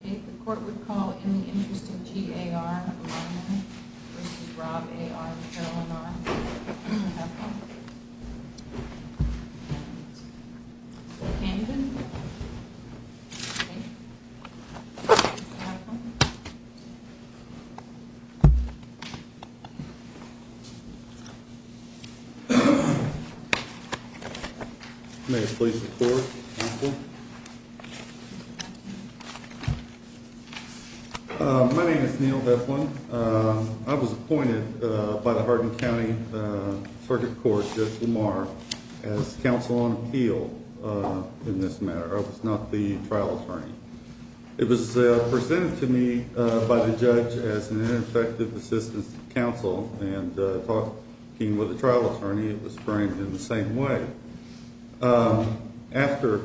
The court would call in the interest of G.A.R. Rob A.R. Candidate. May I please report counsel. My name is Neil. I was appointed by the Hardin County Circuit Court. As counsel on appeal in this matter. I was not the trial attorney. It was presented to me by the judge as an ineffective assistance to counsel. And talking with the trial attorney it was framed in the same way. After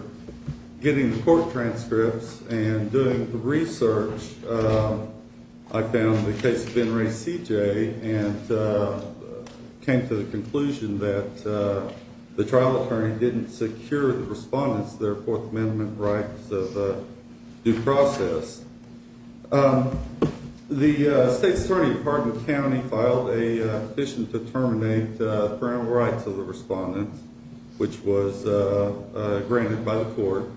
getting the court transcripts and doing the research, I found the case of Ben Ray C.J. and came to the conclusion that the trial attorney didn't secure the respondents their Fourth Amendment rights of due process. The state's attorney at Hardin County filed a petition to terminate the parental rights of the respondents which was granted by the court.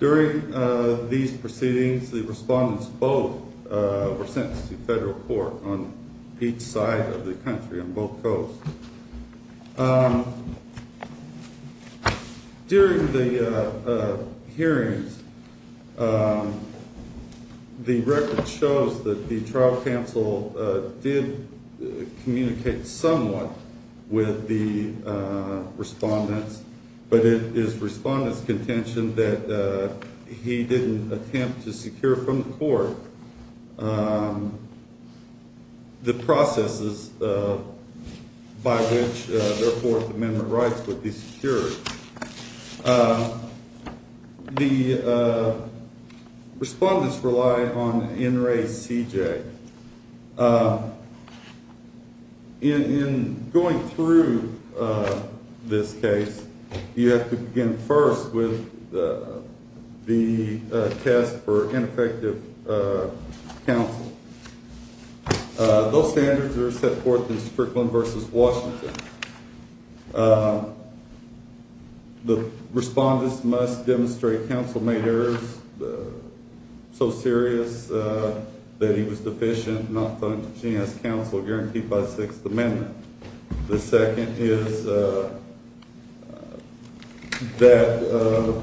During these proceedings, the respondents both were sentenced to federal court on each side of the country on both coasts. During the hearings the record shows that the trial counsel did communicate somewhat with the respondents, but it is the respondents contention that he didn't attempt to secure from the court the processes by which their Fourth Amendment rights would be secured. The respondents relied on Ben Ray C.J. In going through this case you have to begin first with the test for ineffective counsel. Those standards are set forth in Strickland v. Washington. The respondents must demonstrate counsel made errors so serious that he was deficient not functioning as counsel guaranteed by the Sixth Amendment. The second is that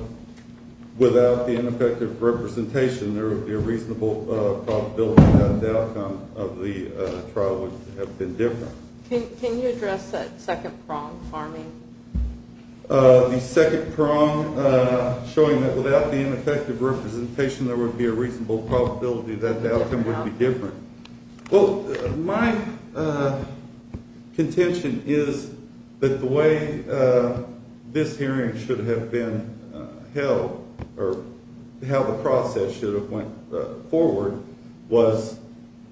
without the ineffective representation there would be a reasonable probability that the outcome of the trial would have been different. The second prong showing that without the ineffective representation there would be a reasonable probability that the outcome would be different. My contention is that the way this hearing should have been held or how the process should have went forward was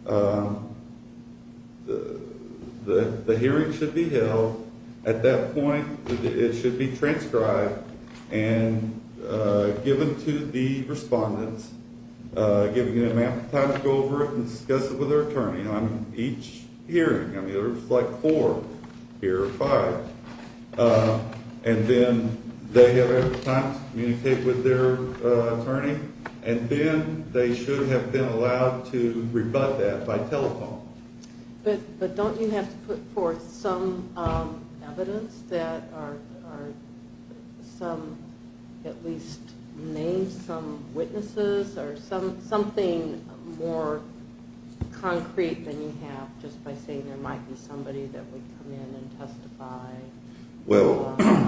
the hearing should be held at that point it should be transcribed and given to the respondents giving them time to go over it and discuss it with their attorney on each hearing. There's like four here or five and then they have every time to communicate with their attorney and then they should have been allowed to rebut that by telephone. But don't you have to put forth some evidence that at least name some witnesses or something more concrete than you have just by saying there might be somebody that would come in and testify?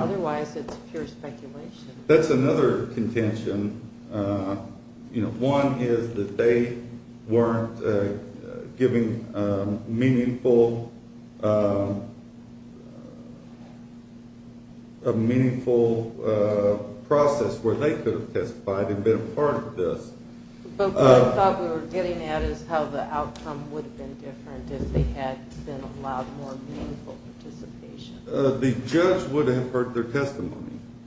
Otherwise it's pure speculation. That's another contention. One is that they weren't giving a meaningful process where they could have testified and been a part of this. But what I thought we were getting at is how the outcome would have been different if they had been allowed more meaningful participation. The judge would have heard their testimony.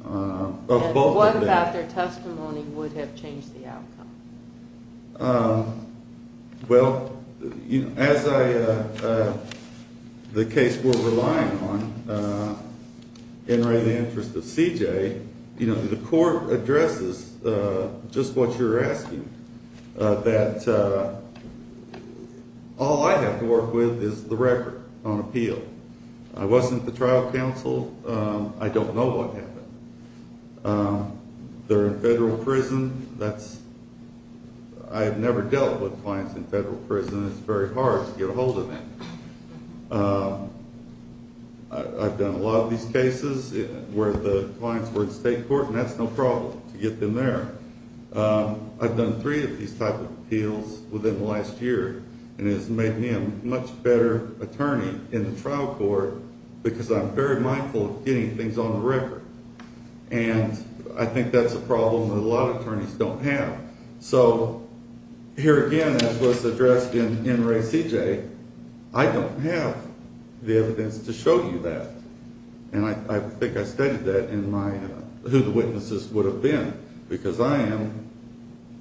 What about their testimony would have changed the outcome? Well, as I the case we're relying on in the interest of CJ, the court addresses just what you're asking, that all I have to work with is the record on appeal. I wasn't the trial counsel. I don't know what happened. They're in federal prison. I've never dealt with clients in federal prison. It's very hard to get a hold of them. I've done a lot of these cases where the clients were in state court, and that's no problem to get them there. I've done three of these type of appeals within the last year, and it's made me a much better attorney in the trial court because I'm very mindful of getting things on the record. And I think that's a problem that a lot of attorneys don't have. So here again, as was addressed in Ray CJ, I don't have the evidence to show you that. And I think I stated that in my who the witnesses would have been, because I am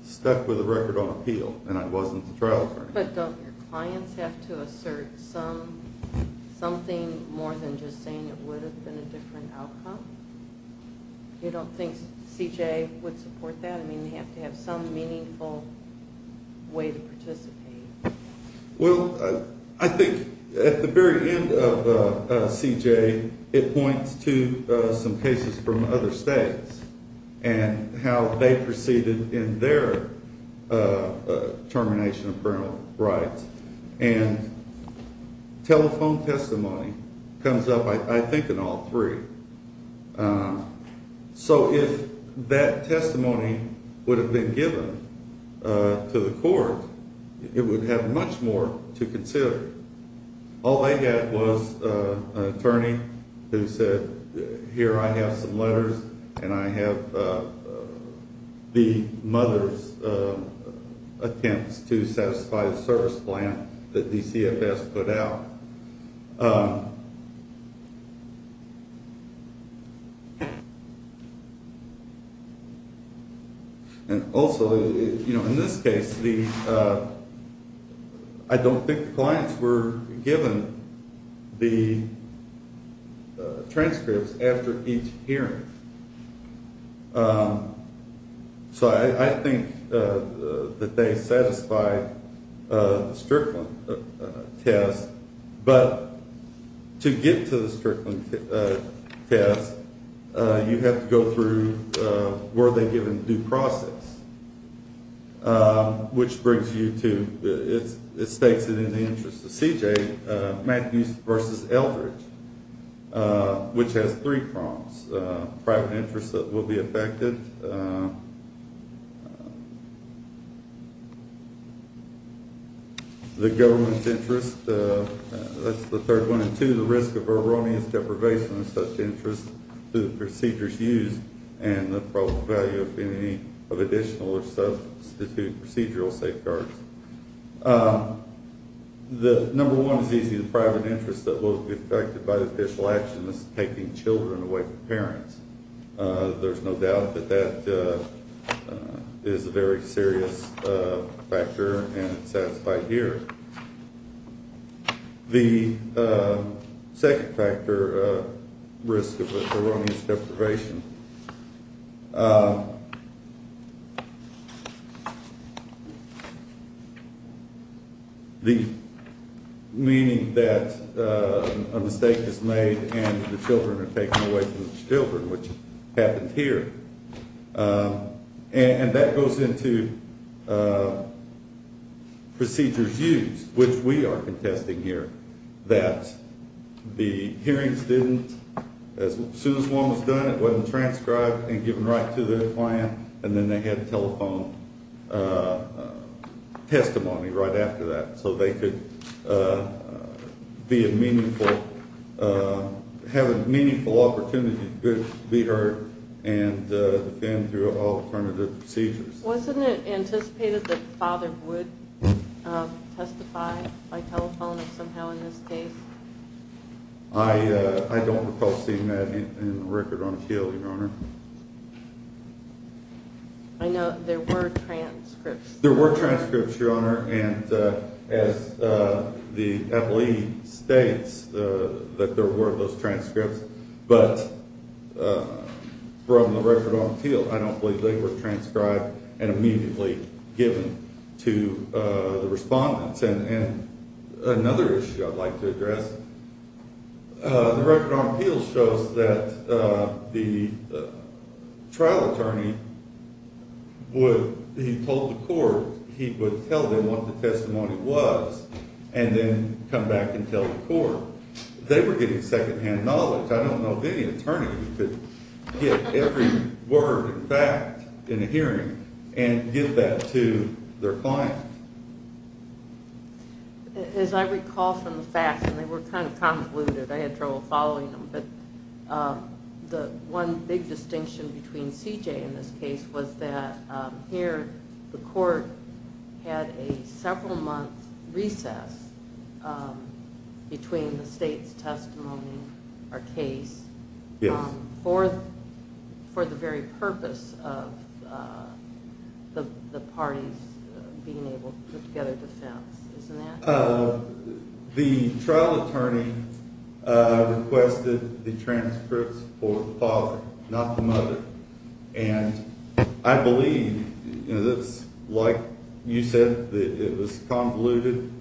stuck with the record on appeal, and I wasn't the trial attorney. But don't your clients have to assert something more than just saying it would have been a different outcome? You don't think CJ would support that? I mean, they have to have some meaningful way to participate. Well, I think at the very end of CJ, it points to some cases from other states and how they proceeded in their termination of criminal rights. And telephone testimony comes up, I think, in all three. So if that testimony would have been given to the court, it would have much more to consider. All they had was an attorney who said, here I have some letters, and I have the mother's attempts to satisfy the service plan that DCFS put out. And also, in this case, I don't think the clients were given the transcripts after each hearing. So I think that they satisfied the Strickland test. But to get to the Strickland test, you have to go through were they given due process, which brings you to, it states it in the interest of CJ, Matthews v. Eldridge, which has three prompts. Private interest that will be affected, the government's interest, that's the third one, and two, the risk of erroneous deprivation of such interest to the procedures used, and the probable value of any additional or substituted procedural safeguards. Number one is easy, the private interest that will be affected by the official action is taking children away from parents. There's no doubt that that is a very serious factor, and it's satisfied here. The second factor, risk of erroneous deprivation. The meaning that a mistake is made and the children are taken away from the children, which happens here. And that goes into procedures used, which we are contesting here, that the hearings didn't, as soon as one was done it wasn't transcribed and given right to the client, and then they had telephone testimony right after that, so they could be a meaningful, have a meaningful opportunity to be heard and defend through all affirmative procedures. Wasn't it anticipated that the father would testify by telephone somehow in this case? I don't recall seeing that in the record on appeal, Your Honor. I know there were transcripts. There were transcripts, Your Honor, and as the athlete states, that there were those transcripts, but from the record on appeal, I don't believe they were transcribed and immediately given to the respondents. And another issue I'd like to address, the record on appeal shows that the trial attorney would, he told the court, he would tell them what the testimony was and then come back and tell the court. They were getting second-hand knowledge. I don't know of any attorney who could get every word and fact in a hearing and give that to their client. As I recall from the facts, and they were kind of convoluted, I had trouble following them, but the one big distinction between C.J. in this case was that here the court had a several month recess between the state's testimony, our case, for the very purpose of the parties being able to put together defense, isn't that? The trial attorney requested the transcripts for the father, not the mother, and I believe it's like you said, it was convoluted,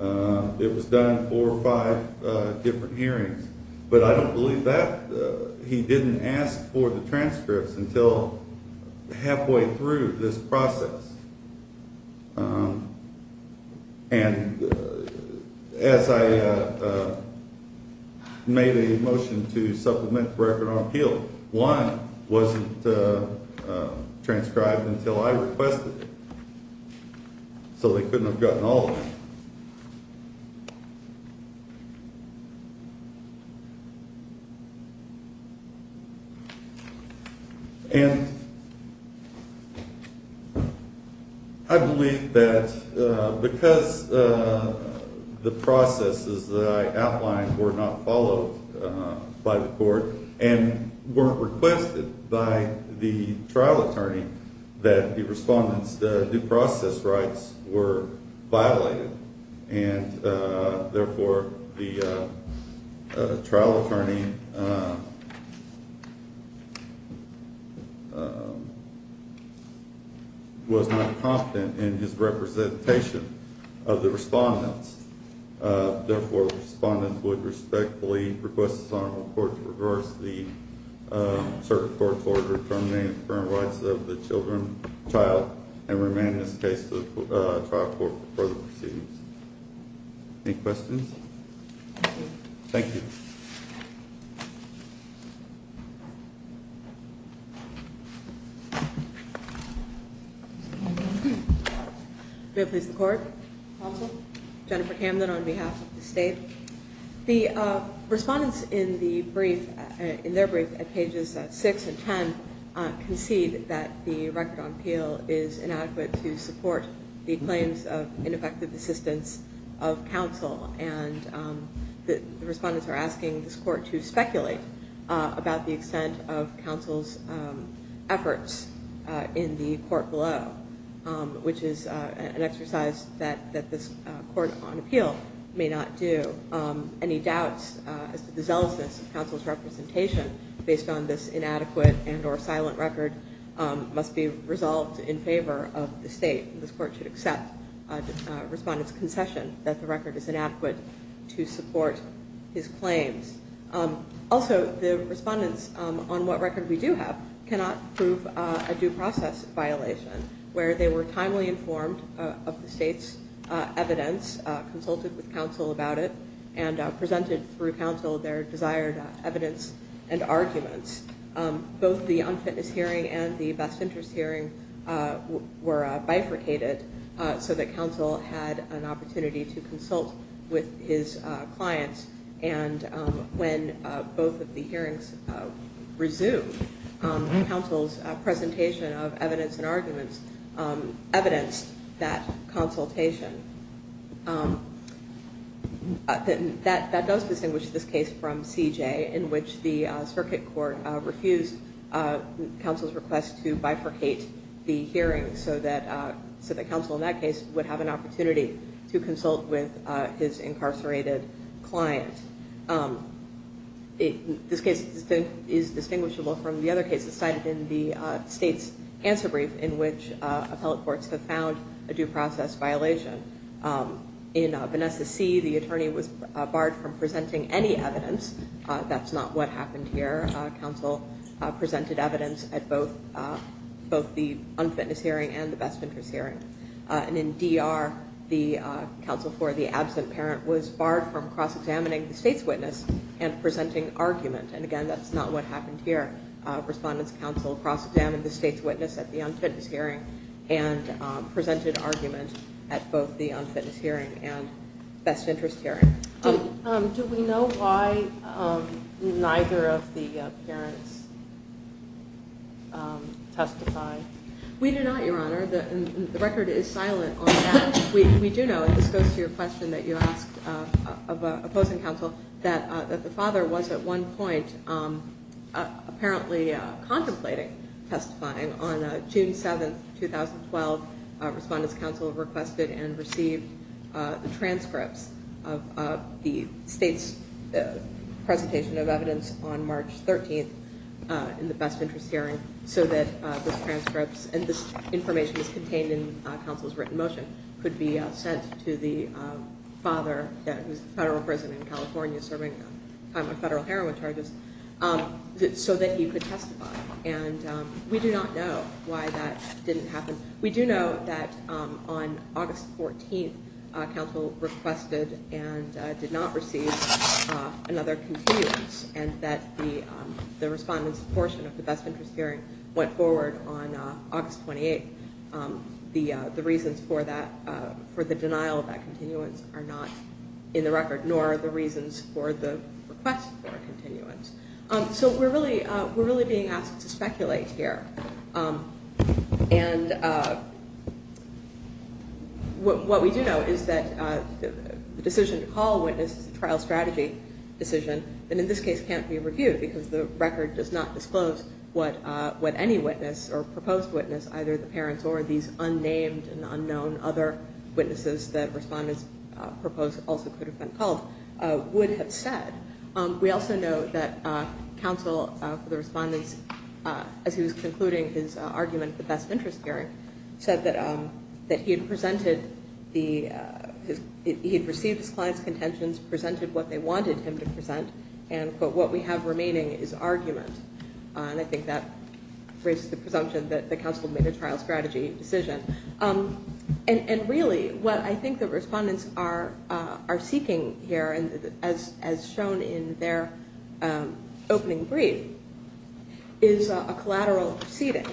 it was done in four or five different hearings, but I don't believe that. He didn't ask for the transcripts until halfway through this process. And as I made a motion to supplement the record on appeal, one wasn't transcribed until I requested it. So they couldn't have gotten all of it. And I believe that because the processes that I outlined were not followed by the court and weren't requested by the trial attorney that the respondent's due process rights were violated and therefore the trial attorney was not confident in his representation of the respondents. Therefore, the respondent would respectfully request this honorable court to reverse the circuit court's order to terminate the firm rights of the children, child, and remain in this case to the trial court for further proceedings. Any questions? Thank you. May it please the court. Counsel. Jennifer Camden on behalf of the state. The respondents in the brief, in their brief at pages six and ten concede that the state has failed to support the claims of ineffective assistance of counsel. And the respondents are asking this court to speculate about the extent of counsel's efforts in the court below, which is an exercise that this court on appeal may not do. Any doubts as to the zealousness of counsel's representation based on this inadequate and or silent record must be stated and this court should accept the respondent's concession that the record is inadequate to support his claims. Also, the respondents on what record we do have cannot prove a due process violation where they were timely informed of the state's evidence, consulted with counsel about it, and presented through counsel their desired evidence and arguments. Both the unfitness hearing and the best interest hearing were bifurcated so that counsel had an opportunity to consult with his clients and when both of the hearings resumed, counsel's presentation of evidence and arguments evidenced that consultation. That does distinguish this case from C.J. in which the circuit court refused counsel's request to bifurcate the hearing so that counsel in that case would have an opportunity to consult with his incarcerated client. This case is distinguishable from the other cases cited in the state's answer brief in which appellate courts have found a due process violation. In Vanessa C., the attorney was barred from presenting any evidence. That's not what happened here. Counsel presented evidence at both the unfitness hearing and the best interest hearing. In D.R., the counsel for the absent parent was barred from cross-examining the state's witness and presenting argument. Again, that's not what happened here. Respondents counsel cross-examined the state's witness at the unfitness hearing and presented argument at both the unfitness hearing and best interest hearing. Do we know why neither of the parents testified? We do not, Your Honor. The record is silent on that. We do know, and this goes to your question that you asked of opposing counsel, that the father was at one point apparently contemplating testifying. On June 7, 2012, respondents counsel requested and received the transcripts of the state's presentation of evidence on March 13th in the best interest hearing so that the transcripts and the information contained in counsel's written motion could be sent to the father, who is a federal prison in California serving time of federal heroin charges, so that he could testify. We do not know why that didn't happen. We do know that on August 14th, counsel requested and did not receive another continuance and that the respondents portion of the best interest hearing went forward on August 28th. The reasons for that for the denial of that continuance are not in the record, nor the reasons for the request for a continuance. So we're really being asked to speculate here. And what we do know is that the decision to call a witness is a trial strategy decision that in this case can't be reviewed because the record does not disclose what any witness or proposed witness, either the parents or these unnamed and unknown other witnesses that respondents proposed also could have been called, would have said. We also know that counsel for the respondents as he was concluding his argument for best interest hearing said that he had presented the he had received his client's contentions, presented what they wanted him to present and quote, what we have remaining is argument. And I think that raises the presumption that counsel made a trial strategy decision. And really what I think the respondents are seeking here as shown in their opening brief is a collateral proceeding.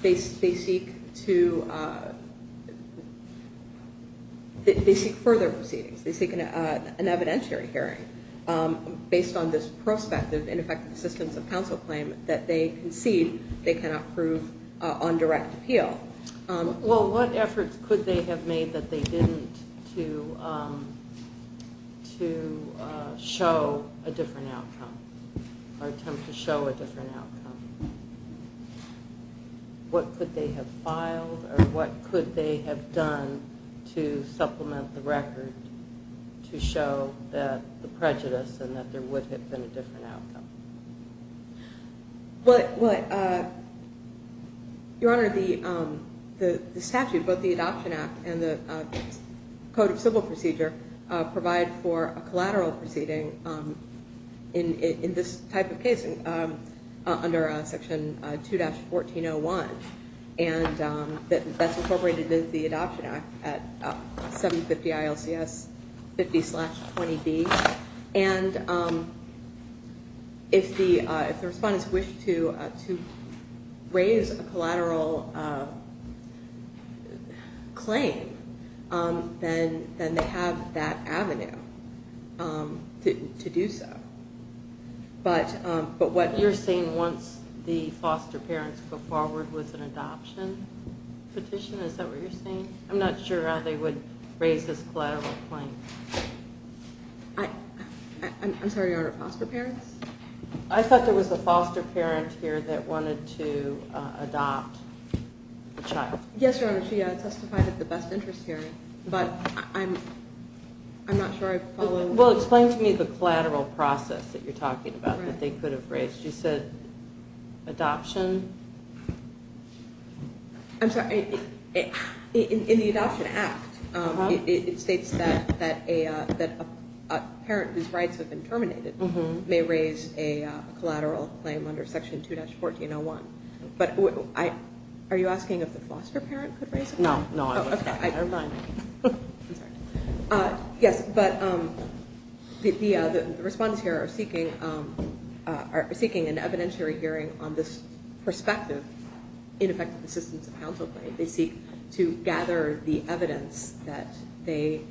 They seek to they seek further proceedings. They seek an evidentiary hearing based on this prospective ineffective assistance of counsel claim that they concede they cannot prove on direct appeal. Well, what efforts could they have made that they didn't to show a different outcome or attempt to show a different outcome? What could they have filed or what could they have done to supplement the record to show that the prejudice and that there would have been a different outcome? Well, Your Honor, the statute, both the Adoption Act and the Court of Civil Procedure provide for a collateral proceeding in this type of case under Section 2-1401. And that's incorporated into the Adoption Act at 750 ILCS 50-20B. And if the respondents wish to raise a collateral claim, then they have that avenue to do so. But what you're saying once the foster parents go forward with an adoption petition, is that what you're saying? I'm not sure how they would raise this collateral claim. I'm sorry, Your Honor, foster parents? I thought there was a foster parent here that wanted to adopt a child. Yes, Your Honor, she testified at the best interest hearing, but I'm not sure I follow. Well, explain to me the collateral process that you're talking about that they could have raised. You said adoption? I'm sorry, in the Adoption Act, it states that a parent whose rights have been terminated may raise a collateral claim under Section 2-1401. Are you asking if the foster parent could raise it? No. Yes, but the respondents here are seeking an evidentiary hearing on this prospective ineffective assistance and counsel claim. They seek to gather the evidence that they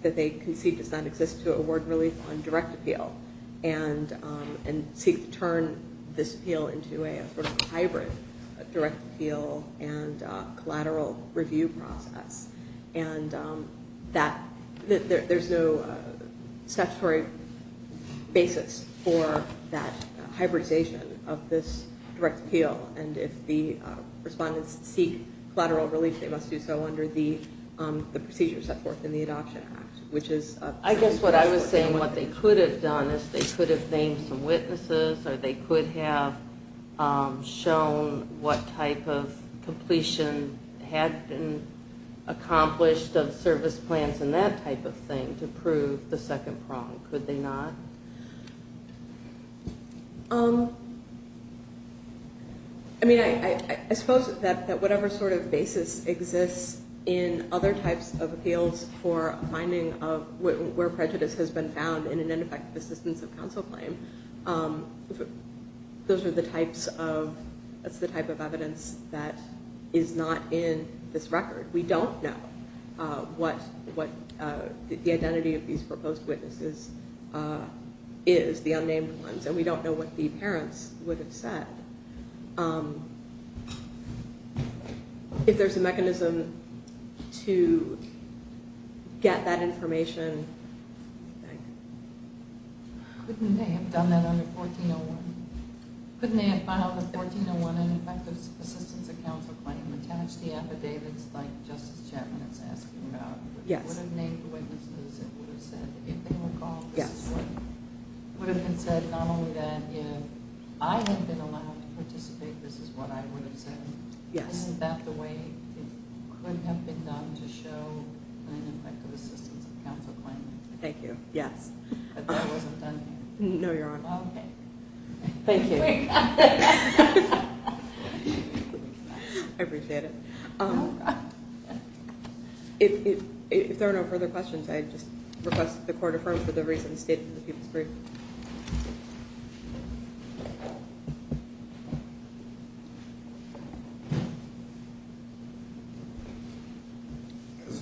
conceive does not exist to award relief on direct appeal and seek to turn this appeal into a sort of hybrid direct appeal and collateral review process. There's no statutory basis for that hybridization of this direct appeal, and if the respondents seek collateral relief, they must do so under the procedures set forth in the Adoption Act. I guess what I was saying, what they could have done is they could have named some witnesses or they could have shown what type of completion had been accomplished of service plans and that type of thing to prove the second prong. Could they not? I mean, I suppose that whatever sort of basis exists in other types of appeals for finding where prejudice has been found in an ineffective assistance of counsel claim, that's the type of evidence that is not in this record. We don't know what the identity of these proposed witnesses is, the unnamed ones, and we don't know what the parents would have said. If there's a mechanism to get that information, couldn't they have done that under 1401? Couldn't they have filed a 1401 ineffective assistance of counsel claim attached to the affidavits like Justice Chapman is asking about? They would have named the witnesses and would have said if they were called, this is what would have been said. Not only that, if I had been allowed to participate, this is what I would have said. Isn't that the way it could have been done to show an ineffective assistance of counsel claim? But that wasn't done here. No, Your Honor. Thank you. I appreciate it. If there are no further questions, I just request that the Court affirm for the reasons stated in the people's brief.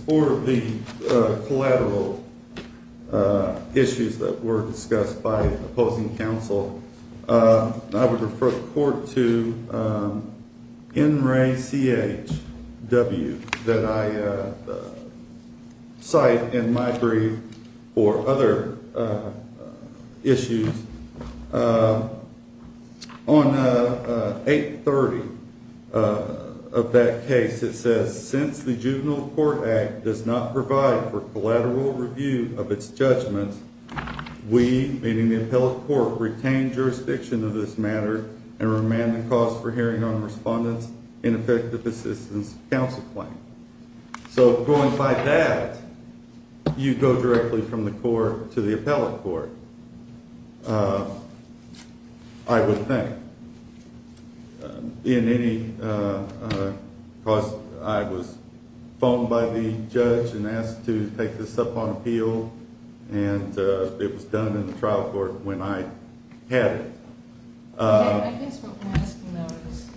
For the collateral issues that were discussed by opposing counsel, I would refer the Court to NRACHW that I cite in my brief for other issues. On page 830 of that case it says, since the Juvenile Court Act does not provide for collateral review of its judgments, we, meaning the appellate court, retain jurisdiction of this matter and remand the cause for hearing on respondents' ineffective assistance of counsel claim. So going by that, you go directly from the Court to the appellate court, I would think. Because I was phoned by the judge and asked to take this up on appeal, and it was done in the trial court when I had it. I guess what we're asking, though, is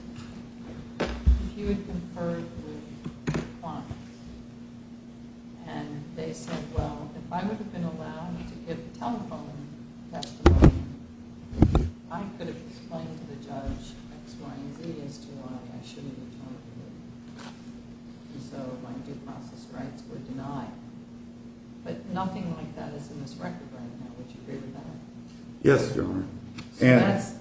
if you had conferred with clients, and they said, well, if I would have been allowed to give a telephone testimony, I could have explained to the judge X, Y, and Z as to why I shouldn't have talked to him. And so my due process rights were denied. But nothing like that is in this record right now. Would you agree with that? Yes, Your Honor. So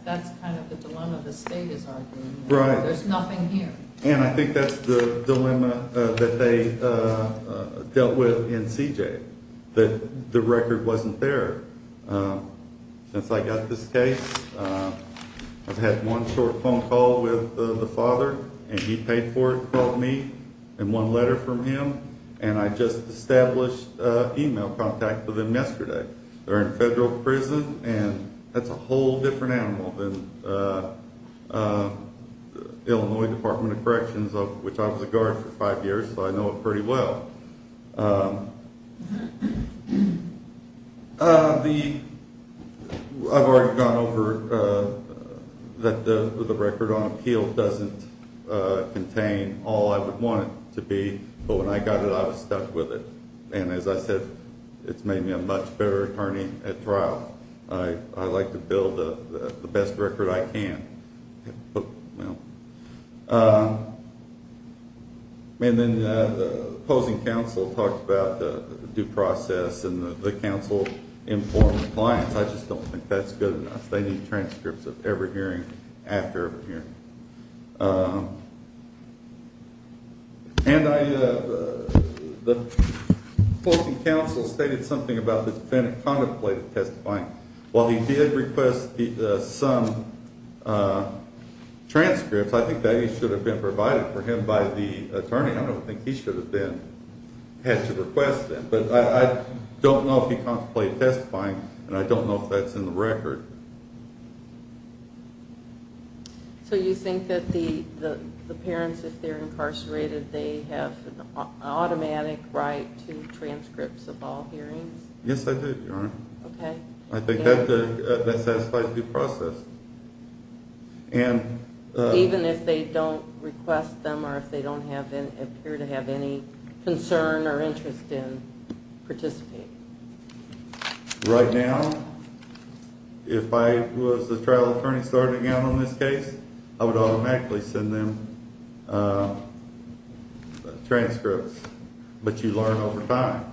that's kind of the dilemma the State is arguing. Right. There's nothing here. And I think that's the dilemma that they dealt with in CJ, that the record wasn't there. Since I got this case, I've had one short phone call with the father, and he paid for it, called me, and one letter from him, and I just established email contact with him yesterday. They're in federal prison, and that's a whole different animal than Illinois Department of Corrections, of which I was a guard for five years, so I know pretty well. I've already gone over that the record on appeal doesn't contain all I would want it to be, but when I got it, I was stuck with it. And as I said, it's made me a much better attorney at trial. I like to build the best record I can. And then the opposing counsel talked about due process, and the counsel informed the clients. I just don't think that's good enough. They need transcripts of every hearing after every hearing. And the opposing counsel stated something about the defendant contemplated testifying. While he did request some transcripts, I think that should have been provided for him by the attorney. I don't think he should have had to request that. But I don't know if he contemplated testifying, and I don't know if that's in the record. So you think that the parents, if they're incarcerated, they have an automatic right I think that satisfies due process. Even if they don't request them or if they don't appear to have any concern or interest in participating. Right now, if I was the trial attorney starting out on this case, I would automatically send them transcripts. But you learn over time.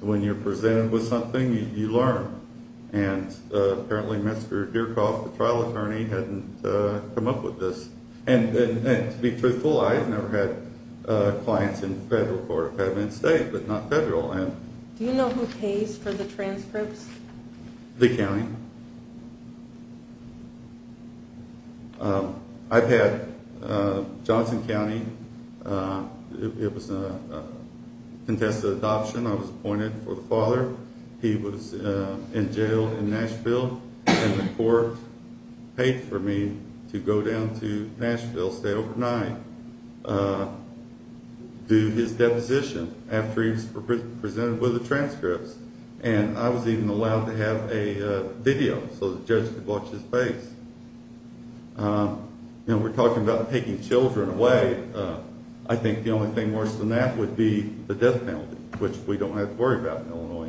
When you're presented with something, you learn. And apparently Mr. Deercroft, the trial attorney, hadn't come up with this. And to be truthful, I've never had clients in federal court. I've had them in state, but not federal. Do you know who pays for the transcripts? The county. I've had Johnson County. It was contested adoption. I was appointed for the father. He was in jail in Nashville, and the court paid for me to go down to Nashville, stay overnight, do his deposition after he was presented with the transcripts. And I was even allowed to have a video so the judge could watch his face. We're talking about taking children away. I think the only thing worse than that would be the death penalty, which we don't have to worry about in Illinois anymore. Thank you.